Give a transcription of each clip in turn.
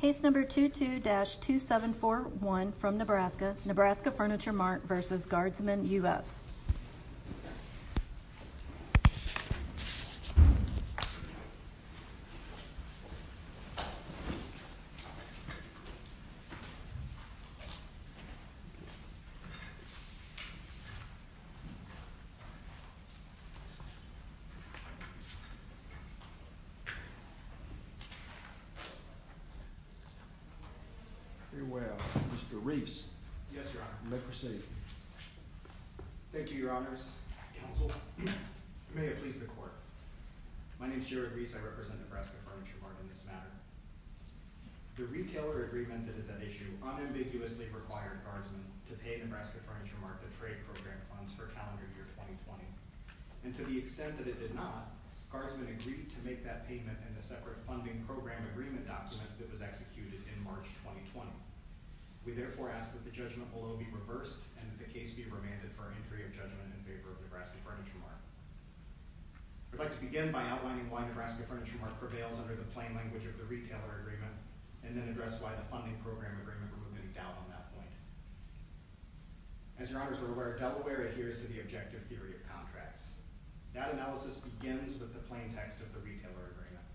Case number 22-2741 from Nebraska, Nebraska Furniture Mart v. Guardsman US. Mr. Reese. Yes, Your Honor. You may proceed. Thank you, Your Honors. Counsel, may it please the Court. My name is Jared Reese. I represent Nebraska Furniture Mart in this matter. The retailer agreement that is at issue unambiguously required Guardsman to pay Nebraska Furniture Mart the trade program funds for calendar year 2020. And to the extent that it did not, Guardsman agreed to make that payment in a separate funding program agreement document that was executed in March 2020. We therefore ask that the judgment below be reversed and that the case be remanded for entry of judgment in favor of Nebraska Furniture Mart. I'd like to begin by outlining why Nebraska Furniture Mart prevails under the plain language of the retailer agreement and then address why the funding program agreement removed any doubt on that point. As Your Honors are aware, Delaware adheres to the objective theory of contracts. That analysis begins with the plain text of the retailer agreement.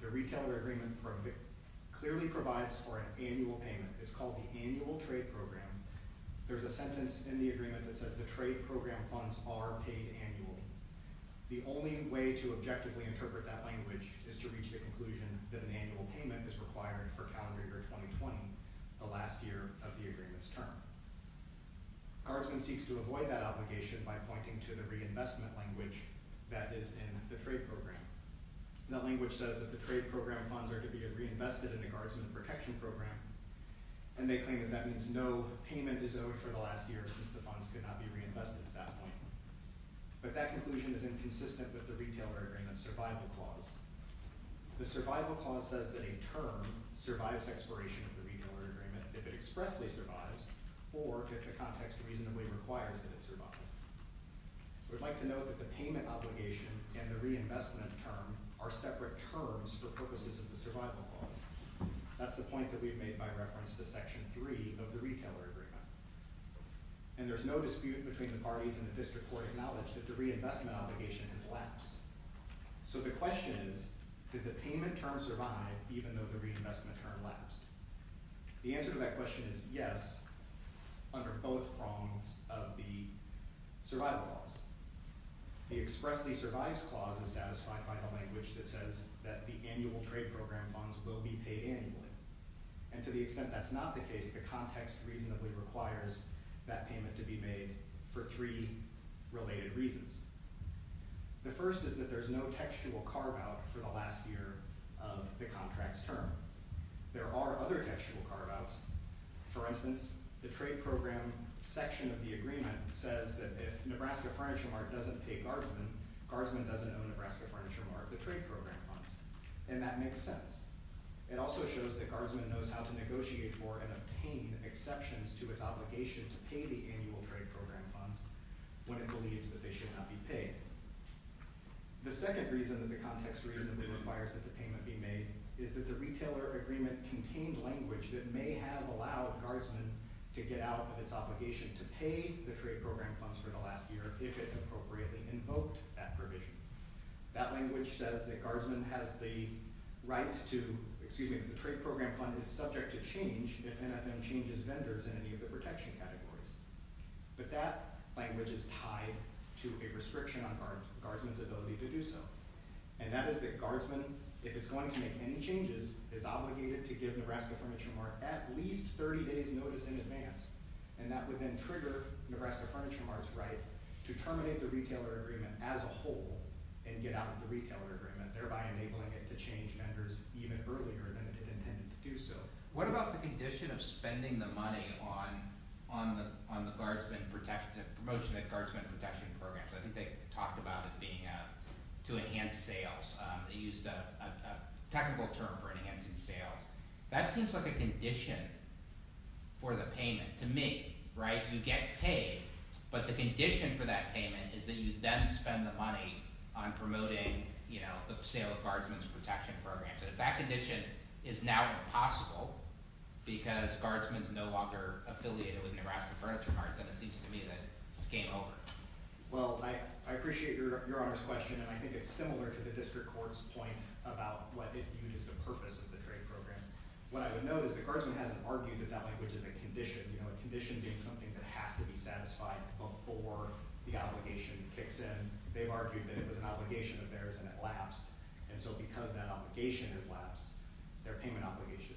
The retailer agreement clearly provides for an annual payment. It's called the annual trade program. There's a sentence in the agreement that says the trade program funds are paid annually. The only way to objectively interpret that language is to reach the conclusion that an annual payment is required for calendar year 2020, the last year of the agreement's term. Guardsman seeks to avoid that obligation by pointing to the reinvestment language that is in the trade program. That language says that the trade program funds are to be reinvested in the Guardsman protection program. And they claim that that means no payment is owed for the last year since the funds could not be reinvested at that point. But that conclusion is inconsistent with the retailer agreement's survival clause. The survival clause says that a term survives expiration of the retailer agreement if it expressly survives or if the context reasonably requires that it survive. We'd like to note that the payment obligation and the reinvestment term are separate terms for purposes of the survival clause. That's the point that we've made by reference to Section 3 of the retailer agreement. And there's no dispute between the parties in the district court acknowledge that the reinvestment obligation has lapsed. So the question is, did the payment term survive even though the reinvestment term lapsed? The answer to that question is yes, under both prongs of the survival clause. The expressly survives clause is satisfied by the language that says that the annual trade program funds will be paid annually. And to the extent that's not the case, the context reasonably requires that payment to be made for three related reasons. The first is that there's no textual carve-out for the last year of the contract's term. There are other textual carve-outs. For instance, the trade program section of the agreement says that if Nebraska Furniture Mart doesn't pay Guardsman, Guardsman doesn't owe Nebraska Furniture Mart the trade program funds. And that makes sense. It also shows that Guardsman knows how to negotiate for and obtain exceptions to its obligation to pay the annual trade program funds when it believes that they should not be paid. The second reason that the context reasonably requires that the payment be made is that the retailer agreement contained language that may have allowed Guardsman to get out of its obligation to pay the trade program funds for the last year if it appropriately invoked that provision. That language says that Guardsman has the right to—excuse me, the trade program fund is subject to change if NFM changes vendors in any of the protection categories. But that language is tied to a restriction on Guardsman's ability to do so. And that is that Guardsman, if it's going to make any changes, is obligated to give Nebraska Furniture Mart at least 30 days' notice in advance. And that would then trigger Nebraska Furniture Mart's right to terminate the retailer agreement as a whole and get out of the retailer agreement, thereby enabling it to change vendors even earlier than it intended to do so. What about the condition of spending the money on the Guardsman protection—the promotion of Guardsman protection programs? I think they talked about it being to enhance sales. They used a technical term for enhancing sales. That seems like a condition for the payment to make, right? You get paid, but the condition for that payment is that you then spend the money on promoting the sale of Guardsman's protection programs. And if that condition is now impossible because Guardsman's no longer affiliated with Nebraska Furniture Mart, then it seems to me that it's game over. Well, I appreciate Your Honor's question, and I think it's similar to the district court's point about what it viewed as the purpose of the trade program. What I would note is that Guardsman hasn't argued that that language is a condition, a condition being something that has to be satisfied before the obligation kicks in. They've argued that it was an obligation of theirs, and it lapsed. And so because that obligation has lapsed, their payment obligation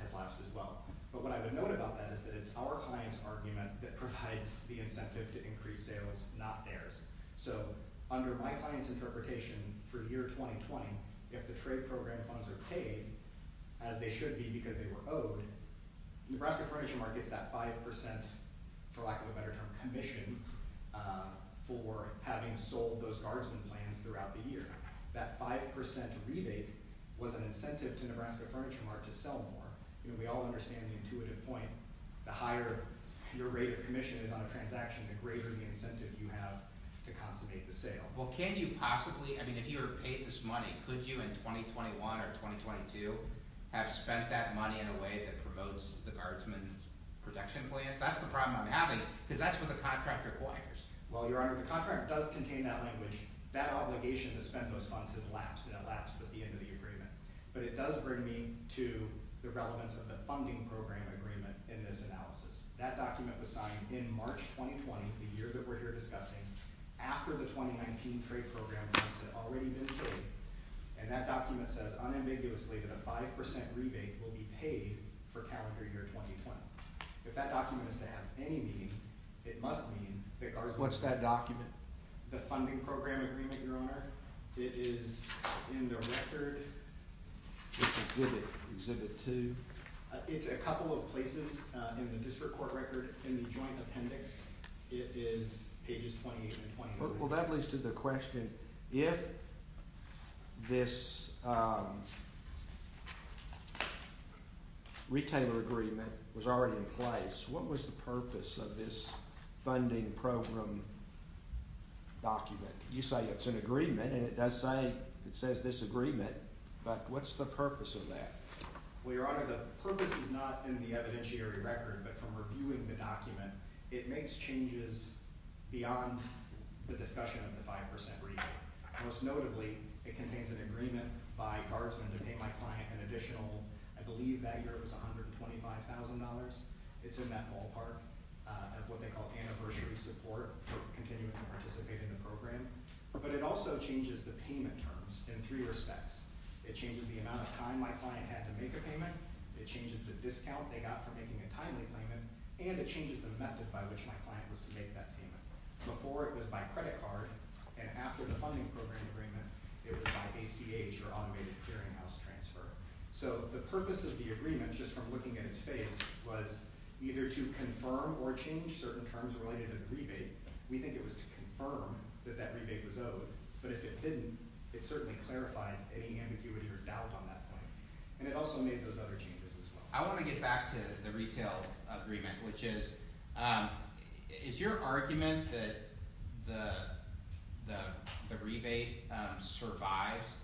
has lapsed as well. But what I would note about that is that it's our client's argument that provides the incentive to increase sales, not theirs. So under my client's interpretation for year 2020, if the trade program funds are paid, as they should be because they were owed, Nebraska Furniture Mart gets that 5%, for lack of a better term, commission for having sold those Guardsman plans throughout the year. That 5% rebate was an incentive to Nebraska Furniture Mart to sell more. We all understand the intuitive point. The higher your rate of commission is on a transaction, the greater the incentive you have to consummate the sale. Well, can you possibly – I mean, if you were paid this money, could you in 2021 or 2022 have spent that money in a way that promotes the Guardsman's protection plans? That's the problem I'm having because that's what the contract requires. Well, Your Honor, the contract does contain that language. That obligation to spend those funds has lapsed, and it lapsed with the end of the agreement. But it does bring me to the relevance of the funding program agreement in this analysis. That document was signed in March 2020, the year that we're here discussing, after the 2019 trade program funds had already been paid. And that document says unambiguously that a 5% rebate will be paid for calendar year 2020. If that document is to have any meaning, it must mean that Guardsman – What's that document? The funding program agreement, Your Honor. It is in the record. Exhibit 2. It's a couple of places in the district court record, in the joint appendix. It is pages 28 and 29. Well, that leads to the question, if this retailer agreement was already in place, what was the purpose of this funding program document? You say it's an agreement, and it does say – it says disagreement. But what's the purpose of that? Well, Your Honor, the purpose is not in the evidentiary record, but from reviewing the document. It makes changes beyond the discussion of the 5% rebate. Most notably, it contains an agreement by Guardsman to pay my client an additional – I believe that year it was $125,000. It's in that ballpark of what they call anniversary support for continuing to participate in the program. But it also changes the payment terms in three respects. It changes the amount of time my client had to make a payment. It changes the discount they got for making a timely payment. And it changes the method by which my client was to make that payment. Before, it was by credit card. And after the funding program agreement, it was by ACH, or automated clearinghouse transfer. So the purpose of the agreement, just from looking at its face, was either to confirm or change certain terms related to the rebate. We think it was to confirm that that rebate was owed. But if it didn't, it certainly clarified any ambiguity or doubt on that point. And it also made those other changes as well. I want to get back to the retail agreement, which is – is your argument that the rebate survives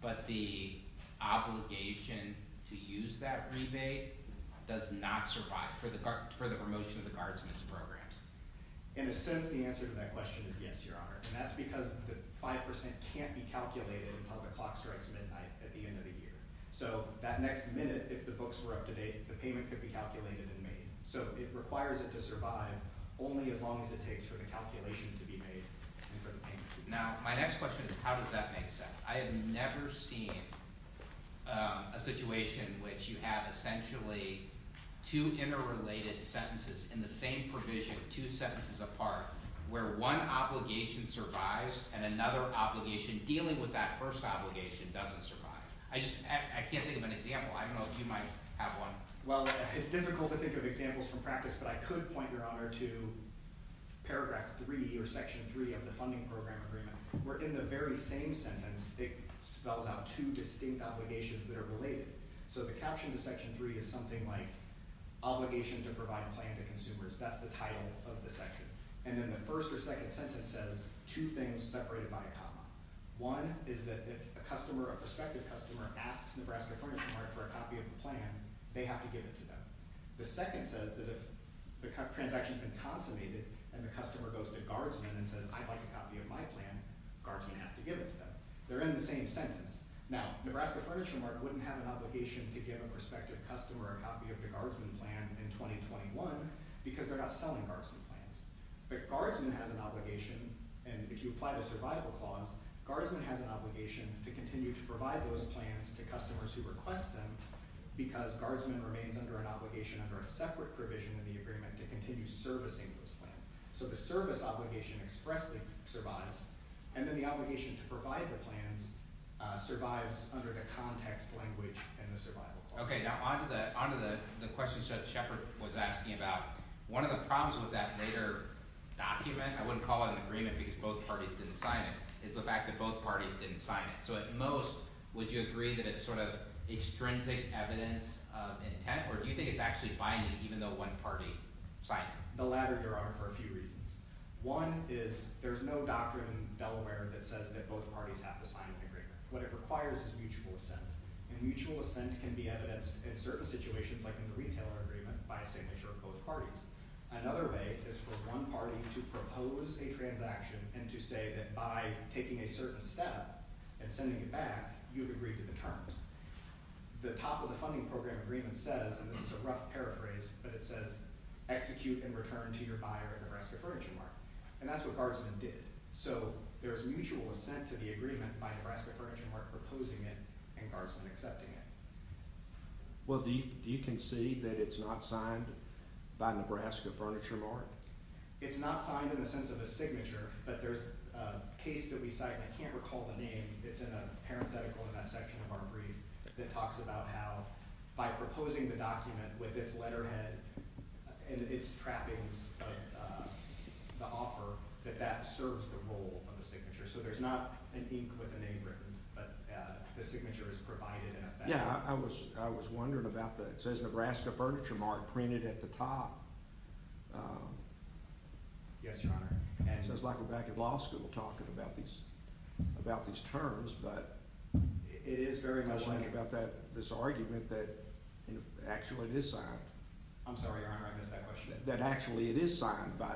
but the obligation to use that rebate does not survive for the promotion of the Guardsman's programs? In a sense, the answer to that question is yes, Your Honor. And that's because the 5% can't be calculated until the clock strikes midnight at the end of the year. So that next minute, if the books were up to date, the payment could be calculated and made. So it requires it to survive only as long as it takes for the calculation to be made and for the payment to be made. Now, my next question is how does that make sense? I have never seen a situation in which you have essentially two interrelated sentences in the same provision, two sentences apart, where one obligation survives and another obligation dealing with that first obligation doesn't survive. I just – I can't think of an example. I don't know if you might have one. Well, it's difficult to think of examples from practice, but I could point, Your Honor, to paragraph 3 or section 3 of the funding program agreement where in the very same sentence it spells out two distinct obligations that are related. So the caption to section 3 is something like obligation to provide a plan to consumers. That's the title of the section. And then the first or second sentence says two things separated by a comma. One is that if a customer, a prospective customer, asks Nebraska Furniture Mart for a copy of the plan, they have to give it to them. The second says that if the transaction has been consummated and the customer goes to Guardsman and says, I'd like a copy of my plan, Guardsman has to give it to them. They're in the same sentence. Now, Nebraska Furniture Mart wouldn't have an obligation to give a prospective customer a copy of the Guardsman plan in 2021 because they're not selling Guardsman plans. But Guardsman has an obligation, and if you apply the survival clause, Guardsman has an obligation to continue to provide those plans to customers who request them because Guardsman remains under an obligation under a separate provision in the agreement to continue servicing those plans. So the service obligation expressly survives, and then the obligation to provide the plans survives under the context language in the survival clause. Okay, now onto the questions that Shepard was asking about. One of the problems with that later document—I wouldn't call it an agreement because both parties didn't sign it—is the fact that both parties didn't sign it. So at most, would you agree that it's sort of extrinsic evidence of intent, or do you think it's actually binding even though one party signed it? The latter derived for a few reasons. One is there's no doctrine in Delaware that says that both parties have to sign an agreement. What it requires is mutual assent, and mutual assent can be evidenced in certain situations like in the retailer agreement by a signature of both parties. Another way is for one party to propose a transaction and to say that by taking a certain step and sending it back, you've agreed to the terms. The top of the funding program agreement says—and this is a rough paraphrase—but it says, execute and return to your buyer at Nebraska Furniture Market. And that's what Guardsman did. So there's mutual assent to the agreement by Nebraska Furniture Market proposing it and Guardsman accepting it. Well, do you concede that it's not signed by Nebraska Furniture Market? It's not signed in the sense of a signature, but there's a case that we cite—I can't recall the name, it's in a parenthetical in that section of our brief— that talks about how by proposing the document with its letterhead and its trappings, the offer, that that serves the role of the signature. So there's not an ink with a name written, but the signature is provided in effect. Yeah, I was wondering about that. It says Nebraska Furniture Market printed at the top. Yes, Your Honor. It sounds like we're back at law school talking about these terms, but it is very much like this argument that actually it is signed. I'm sorry, Your Honor, I missed that question. That actually it is signed by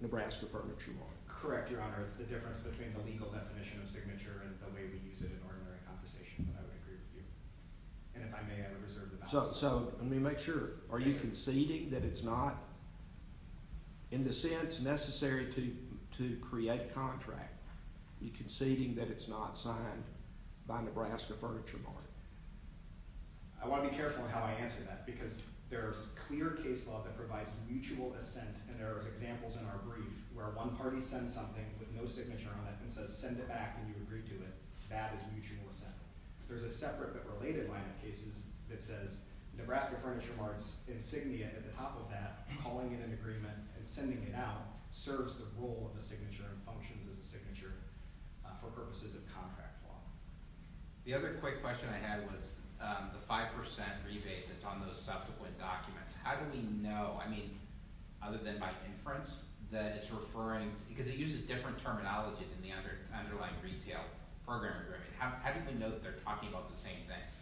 Nebraska Furniture Market. Correct, Your Honor. It's the difference between the legal definition of signature and the way we use it in ordinary conversation, but I would agree with you. And if I may, I reserve the balance. So let me make sure. Are you conceding that it's not, in the sense necessary to create contract, you're conceding that it's not signed by Nebraska Furniture Market? I want to be careful how I answer that, because there's clear case law that provides mutual assent, and there are examples in our brief where one party sends something with no signature on it and says, send it back and you agree to it. That is mutual assent. There's a separate but related line of cases that says Nebraska Furniture Mart's insignia at the top of that, calling it an agreement and sending it out, serves the role of the signature and functions as a signature for purposes of contract law. The other quick question I had was the 5% rebate that's on those subsequent documents. How do we know, I mean, other than by inference, that it's referring – because it uses different terminology than the underlying retail program agreement. How do we know that they're talking about the same things?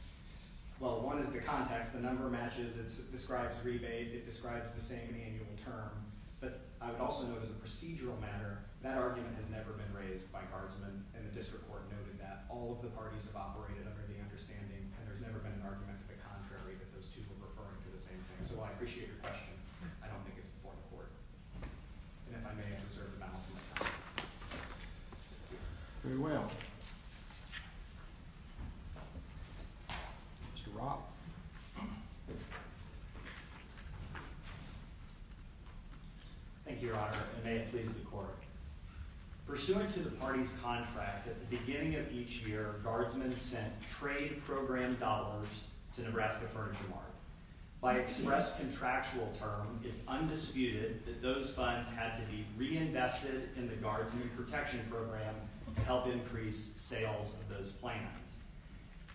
Well, one is the context. The number matches. It describes rebate. It describes the same annual term. But I would also note as a procedural matter that argument has never been raised by guardsmen, and the district court noted that. All of the parties have operated under the understanding, and there's never been an argument to the contrary that those two were referring to the same thing. So I appreciate your question. I don't think it's before the court. And if I may, I reserve the balance of my time. Very well. Mr. Roth. Thank you, Your Honor, and may it please the court. Pursuant to the parties' contract, at the beginning of each year, guardsmen sent trade program dollars to Nebraska Furniture Mart. By express contractual term, it's undisputed that those funds had to be reinvested in the guardsmen protection program to help increase sales of those plans.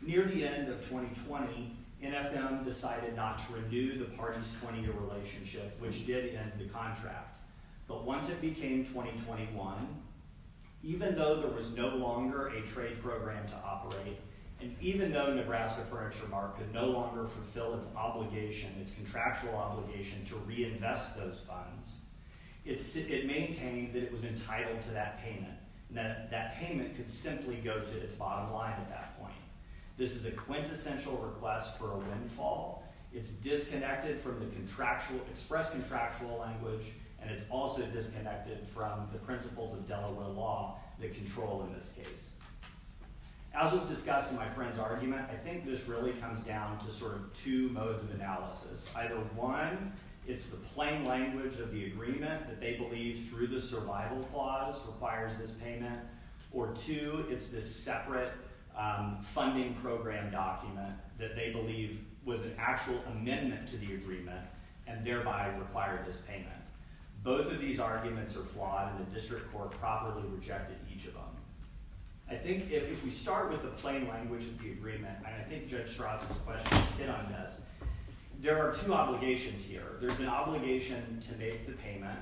Near the end of 2020, NFM decided not to renew the parties' 20-year relationship, which did end the contract. But once it became 2021, even though there was no longer a trade program to operate, and even though Nebraska Furniture Mart could no longer fulfill its obligation, its contractual obligation, to reinvest those funds, it maintained that it was entitled to that payment, and that that payment could simply go to its bottom line at that point. This is a quintessential request for a windfall. It's disconnected from the express contractual language, and it's also disconnected from the principles of Delaware law that control in this case. As was discussed in my friend's argument, I think this really comes down to sort of two modes of analysis. Either one, it's the plain language of the agreement that they believe through the survival clause requires this payment, or two, it's this separate funding program document that they believe was an actual amendment to the agreement and thereby required this payment. Both of these arguments are flawed, and the district court properly rejected each of them. I think if we start with the plain language of the agreement, and I think Judge Strassel's questions fit on this, there are two obligations here. There's an obligation to make the payment,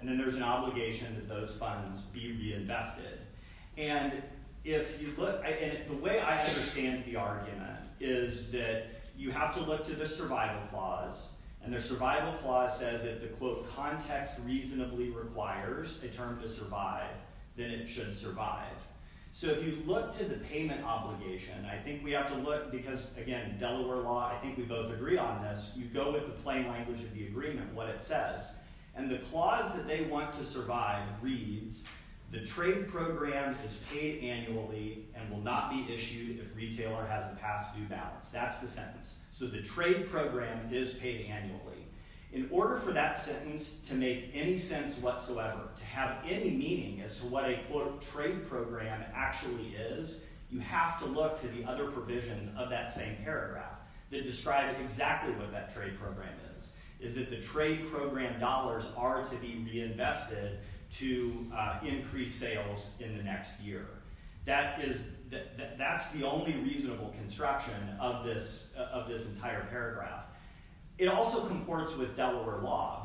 and then there's an obligation that those funds be reinvested. The way I understand the argument is that you have to look to the survival clause, and the survival clause says if the, quote, context reasonably requires a term to survive, then it should survive. If you look to the payment obligation, I think we have to look, because again, Delaware law, I think we both agree on this, you go with the plain language of the agreement, what it says. And the clause that they want to survive reads, the trade program is paid annually and will not be issued if retailer has a past due balance. That's the sentence. So the trade program is paid annually. In order for that sentence to make any sense whatsoever, to have any meaning as to what a, quote, trade program actually is, you have to look to the other provisions of that same paragraph that describe exactly what that trade program is. It's that the trade program dollars are to be reinvested to increase sales in the next year. That's the only reasonable construction of this entire paragraph. It also comports with Delaware law,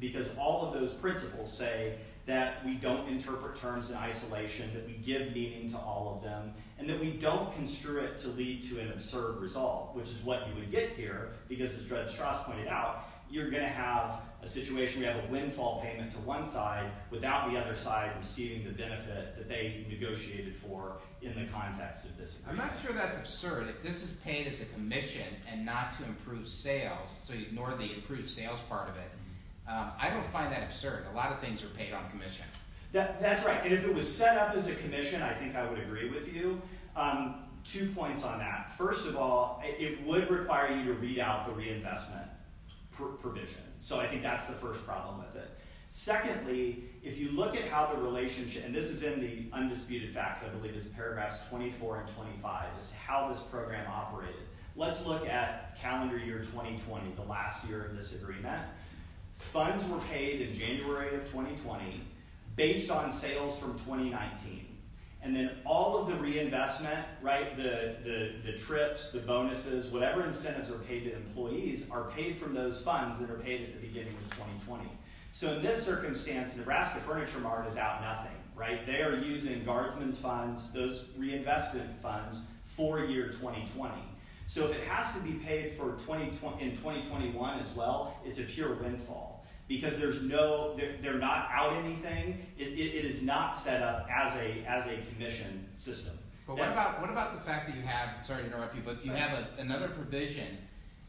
because all of those principles say that we don't interpret terms in isolation, that we give meaning to all of them, and that we don't construe it to lead to an absurd result, which is what you would get here, because as Judge Strauss pointed out, you're going to have a situation where you have a windfall payment to one side without the other side receiving the benefit that they negotiated for in the context of this agreement. I'm not sure that's absurd. If this is paid as a commission and not to improve sales, so you ignore the improved sales part of it, I don't find that absurd. A lot of things are paid on commission. That's right. And if it was set up as a commission, I think I would agree with you. Two points on that. First of all, it would require you to read out the reinvestment provision. I think that's the first problem with it. Secondly, if you look at how the relationship, and this is in the undisputed facts, I believe it's paragraphs 24 and 25, is how this program operated. Let's look at calendar year 2020, the last year of this agreement. Funds were paid in January of 2020 based on sales from 2019. And then all of the reinvestment, the trips, the bonuses, whatever incentives are paid to employees, are paid from those funds that are paid at the beginning of 2020. So in this circumstance, Nebraska Furniture Mart is out nothing. They are using guardsmen's funds, those reinvestment funds, for year 2020. So if it has to be paid in 2021 as well, it's a pure windfall. Because there's no, they're not out anything. It is not set up as a commission system. But what about the fact that you have, sorry to interrupt you, but you have another provision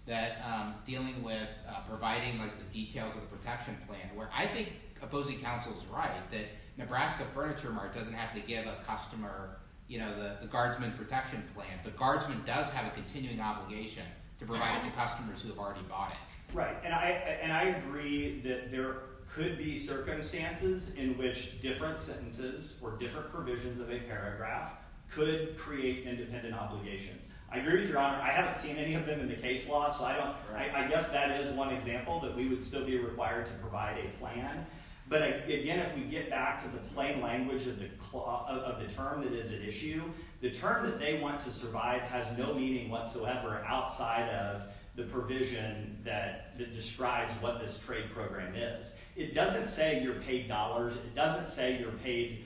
that dealing with providing the details of the protection plan, where I think Opposing Council is right, that Nebraska Furniture Mart doesn't have to give a customer the guardsmen protection plan, but guardsmen does have a continuing obligation to provide it to customers who have already bought it. Right. And I agree that there could be circumstances in which different sentences or different provisions of a paragraph could create independent obligations. I agree with your honor. I haven't seen any of them in the case law. So I guess that is one example that we would still be required to provide a plan. But again, if we get back to the plain language of the term that is at issue, the term that they want to survive has no meaning whatsoever outside of the provision that describes what this trade program is. It doesn't say you're paid dollars. It doesn't say you're paid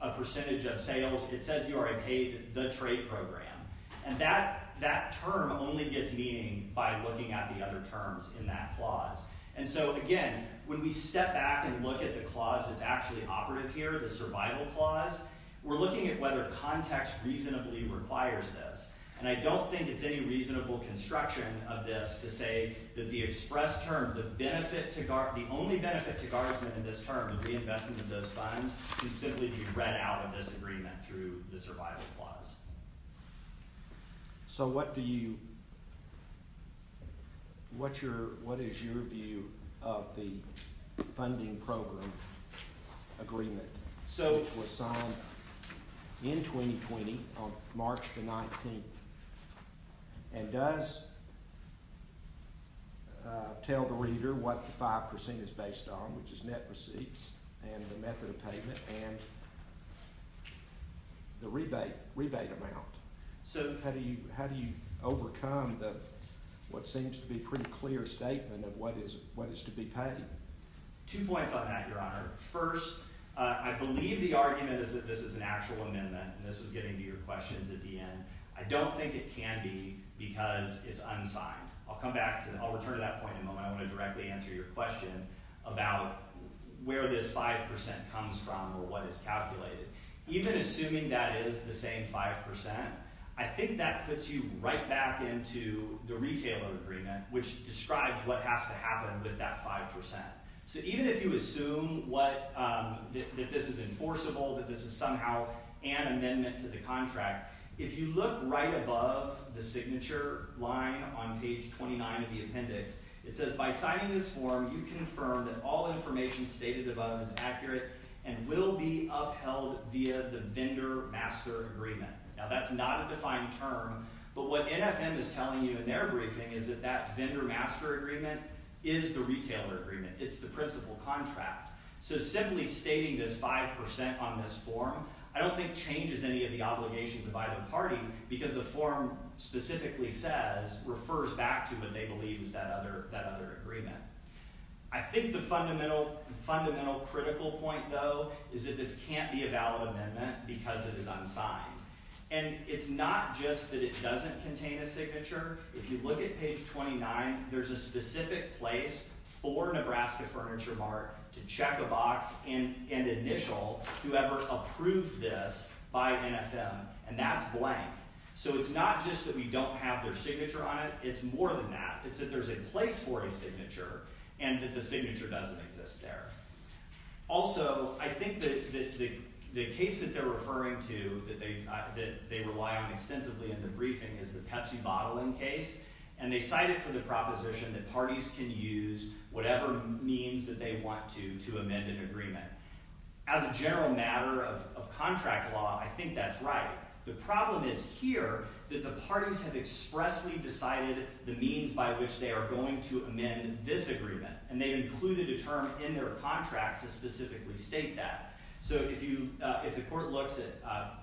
a percentage of sales. It says you are paid the trade program. And that that term only gets meaning by looking at the other terms in that clause. And so, again, when we step back and look at the clause that's actually operative here, the survival clause, we're looking at whether context reasonably requires this. And I don't think it's any reasonable construction of this to say that the express term, the only benefit to guardsmen in this term, the reinvestment of those funds, can simply be read out of this agreement through the survival clause. So what is your view of the funding program agreement? So it was signed in 2020 on March the 19th. And does tell the reader what the 5% is based on, which is net receipts and the method of payment and the rebate amount. So how do you overcome what seems to be a pretty clear statement of what is to be paid? Two points on that, Your Honor. First, I believe the argument is that this is an actual amendment, and this was getting to your questions at the end. I don't think it can be because it's unsigned. I'll return to that point in a moment. I want to directly answer your question about where this 5% comes from or what is calculated. Even assuming that is the same 5%, I think that puts you right back into the retailer agreement, which describes what has to happen with that 5%. So even if you assume that this is enforceable, that this is somehow an amendment to the contract, if you look right above the signature line on page 29 of the appendix, it says, By signing this form, you confirm that all information stated above is accurate and will be upheld via the vendor-master agreement. Now, that's not a defined term, but what NFM is telling you in their briefing is that that vendor-master agreement is the retailer agreement. It's the principal contract. So simply stating this 5% on this form, I don't think changes any of the obligations of either party because the form specifically says, refers back to what they believe is that other agreement. I think the fundamental critical point, though, is that this can't be a valid amendment because it is unsigned. And it's not just that it doesn't contain a signature. If you look at page 29, there's a specific place for Nebraska Furniture Mart to check a box and initial whoever approved this by NFM, and that's blank. So it's not just that we don't have their signature on it. It's more than that. It's that there's a place for a signature and that the signature doesn't exist there. Also, I think that the case that they're referring to that they rely on extensively in the briefing is the Pepsi bottling case, and they cite it for the proposition that parties can use whatever means that they want to to amend an agreement. As a general matter of contract law, I think that's right. The problem is here that the parties have expressly decided the means by which they are going to amend this agreement, and they included a term in their contract to specifically state that. So if the court looks at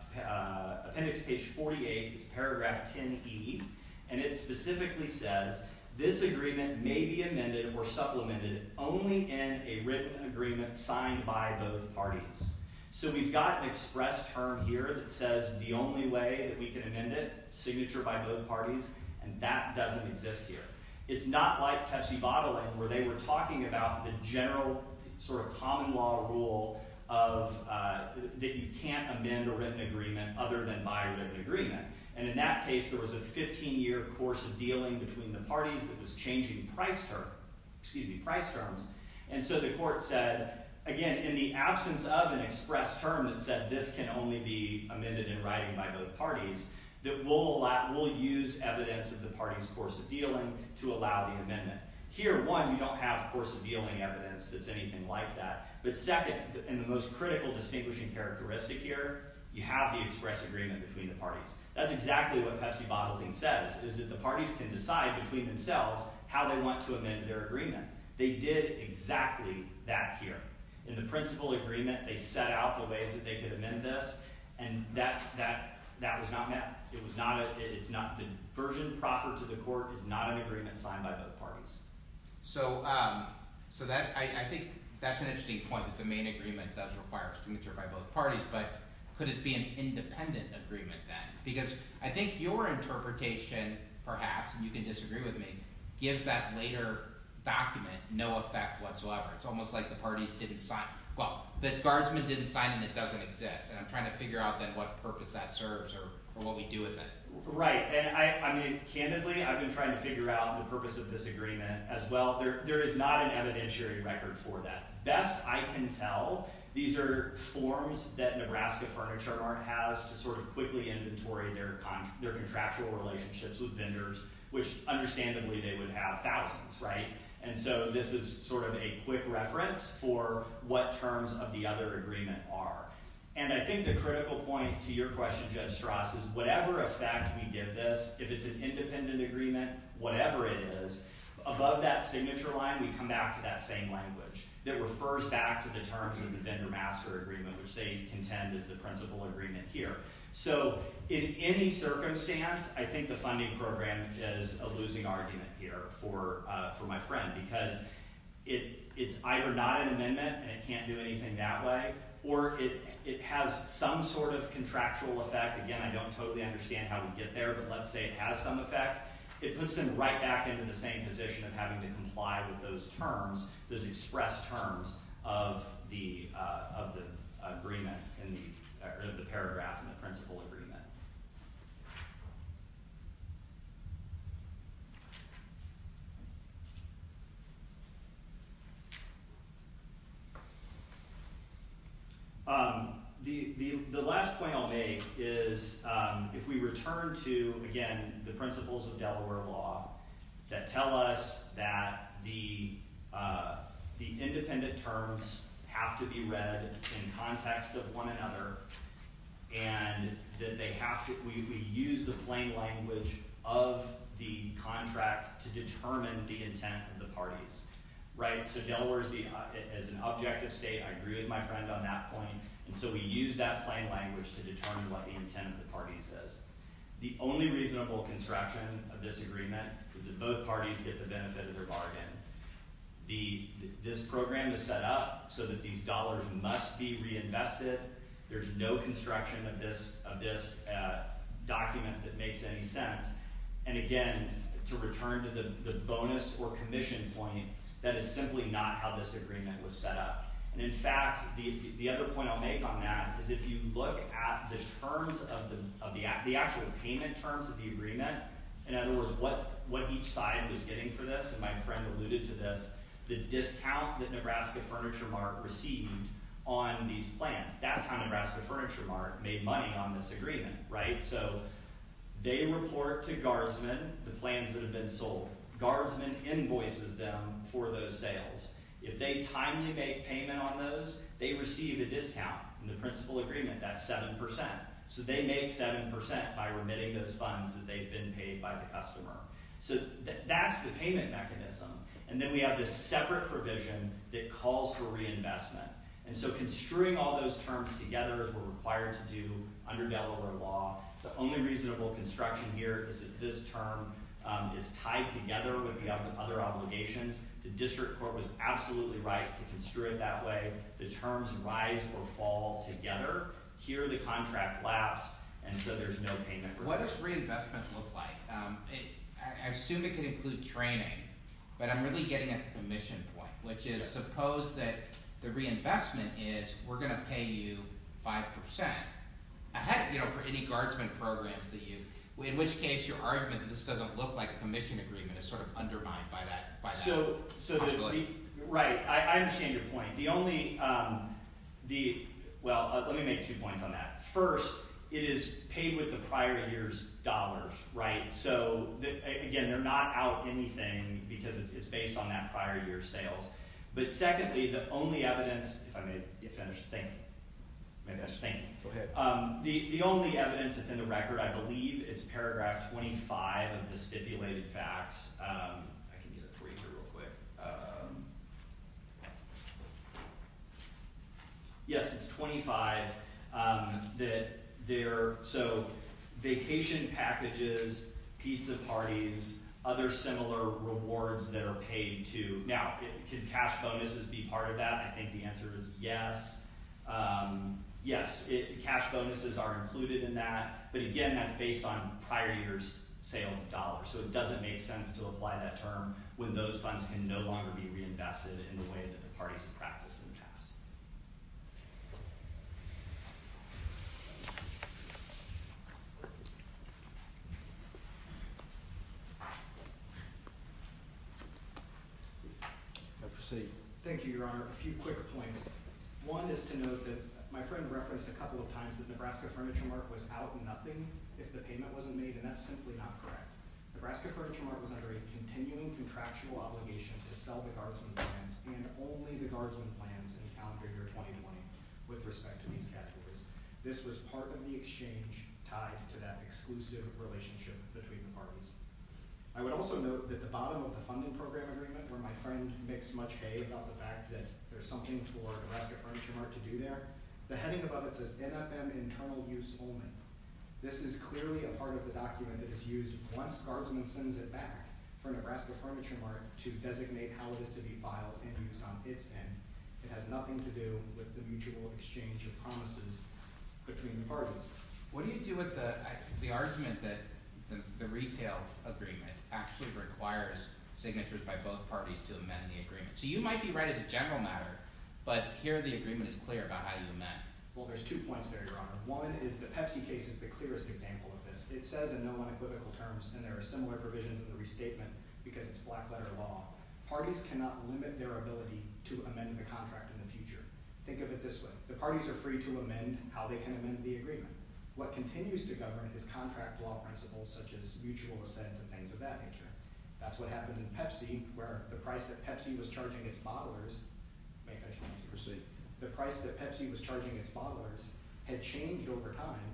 appendix page 48, it's paragraph 10E, and it specifically says, This agreement may be amended or supplemented only in a written agreement signed by both parties. So we've got an express term here that says the only way that we can amend it, signature by both parties, and that doesn't exist here. It's not like Pepsi bottling where they were talking about the general sort of common law rule that you can't amend a written agreement other than by written agreement, and in that case, there was a 15-year course of dealing between the parties that was changing price terms, and so the court said, again, in the absence of an express term that said this can only be amended in writing by both parties, that we'll use evidence of the parties' course of dealing to allow the amendment. Here, one, you don't have course of dealing evidence that's anything like that, but second, and the most critical distinguishing characteristic here, you have the express agreement between the parties. That's exactly what Pepsi bottling says is that the parties can decide between themselves how they want to amend their agreement. They did exactly that here. In the principal agreement, they set out the ways that they could amend this, and that was not met. It was not a—it's not—the version proffered to the court is not an agreement signed by both parties. So that—I think that's an interesting point that the main agreement does require signature by both parties, but could it be an independent agreement then? Because I think your interpretation, perhaps, and you can disagree with me, gives that later document no effect whatsoever. It's almost like the parties didn't sign—well, the guardsmen didn't sign, and it doesn't exist, and I'm trying to figure out then what purpose that serves or what we do with it. Right, and I mean, candidly, I've been trying to figure out the purpose of this agreement as well. There is not an evidentiary record for that. Best I can tell, these are forms that Nebraska Furniture Art has to sort of quickly inventory their contractual relationships with vendors, which, understandably, they would have thousands, right? And so this is sort of a quick reference for what terms of the other agreement are. And I think the critical point to your question, Judge Strass, is whatever effect we give this, if it's an independent agreement, whatever it is, above that signature line, we come back to that same language that refers back to the terms of the vendor-master agreement, which they contend is the principal agreement here. So in any circumstance, I think the funding program is a losing argument here for my friend, because it's either not an amendment and it can't do anything that way, or it has some sort of contractual effect. Again, I don't totally understand how we get there, but let's say it has some effect. It puts them right back into the same position of having to comply with those terms, of the agreement, or the paragraph in the principal agreement. The last point I'll make is if we return to, again, the principles of Delaware law that tell us that the independent terms have to be read in context of one another and that they have to – we use the plain language of the contract to determine the intent of the parties, right? So Delaware is an objective state. I agree with my friend on that point. And so we use that plain language to determine what the intent of the parties is. The only reasonable construction of this agreement is that both parties get the benefit of their bargain. This program is set up so that these dollars must be reinvested. There's no construction of this document that makes any sense. And again, to return to the bonus or commission point, that is simply not how this agreement was set up. And in fact, the other point I'll make on that is if you look at the terms of the – the actual payment terms of the agreement, in other words, what each side was getting for this, and my friend alluded to this, the discount that Nebraska Furniture Mart received on these plans. That's how Nebraska Furniture Mart made money on this agreement, right? So they report to Garbsman the plans that have been sold. Garbsman invoices them for those sales. If they timely make payment on those, they receive a discount in the principal agreement. That's 7 percent. So they make 7 percent by remitting those funds that they've been paid by the customer. So that's the payment mechanism. And then we have this separate provision that calls for reinvestment. And so construing all those terms together, as we're required to do under Delaware law, the only reasonable construction here is that this term is tied together with the other obligations. The district court was absolutely right to construe it that way. The terms rise or fall together. Here the contract laps, and so there's no payment required. What does reinvestment look like? I assume it could include training, but I'm really getting at the commission point, which is suppose that the reinvestment is we're going to pay you 5 percent for any Garbsman programs that you – in which case your argument that this doesn't look like a commission agreement is sort of undermined by that. Right. I understand your point. The only – well, let me make two points on that. First, it is paid with the prior year's dollars, right? So again, they're not out anything because it's based on that prior year's sales. But secondly, the only evidence – if I may finish thinking. Maybe I should think. The only evidence that's in the record, I believe, is paragraph 25 of the stipulated facts. I can get it for you here real quick. Yes, it's 25 that they're – so vacation packages, pizza parties, other similar rewards that are paid to – now, can cash bonuses be part of that? I think the answer is yes. Yes, cash bonuses are included in that, but again, that's based on prior year's sales of dollars, so it doesn't make sense to apply that term when those funds can no longer be reinvested in the way that the parties have practiced in the past. I proceed. Thank you, Your Honor. A few quick points. One is to note that my friend referenced a couple of times that Nebraska Furniture Mark was out nothing if the payment wasn't made, and that's simply not correct. Nebraska Furniture Mark was under a continuing contractual obligation to sell the guardsman plans and only the guardsman plans in calendar year 2020 with respect to these categories. This was part of the exchange tied to that exclusive relationship between the parties. I would also note that the bottom of the funding program agreement, where my friend makes much hay about the fact that there's something for Nebraska Furniture Mark to do there, the heading above it says, This is clearly a part of the document that is used once guardsman sends it back for Nebraska Furniture Mark to designate how it is to be filed and used on its end. It has nothing to do with the mutual exchange of promises between the parties. What do you do with the argument that the retail agreement actually requires signatures by both parties to amend the agreement? So you might be right as a general matter, but here the agreement is clear about how you amend. Well, there's two points there, Your Honor. One is the Pepsi case is the clearest example of this. It says in no unequivocal terms, and there are similar provisions in the restatement because it's black-letter law, parties cannot limit their ability to amend the contract in the future. Think of it this way. The parties are free to amend how they can amend the agreement. What continues to govern is contract law principles, such as mutual assent and things of that nature. That's what happened in Pepsi, where the price that Pepsi was charging its bottlers, the price that Pepsi was charging its bottlers had changed over time,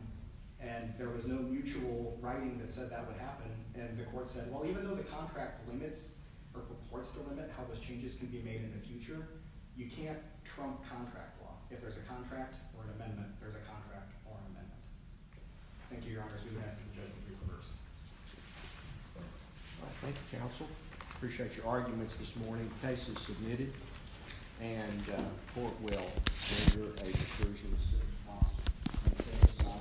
and there was no mutual writing that said that would happen, and the court said, well, even though the contract limits or purports to limit how those changes can be made in the future, you can't trump contract law. If there's a contract or an amendment, there's a contract or an amendment. Thank you, Your Honor. I'm going to ask the judge to reconverse. Thank you, counsel. I appreciate your arguments this morning. The case is submitted, and the court will render a declaration of state of the law.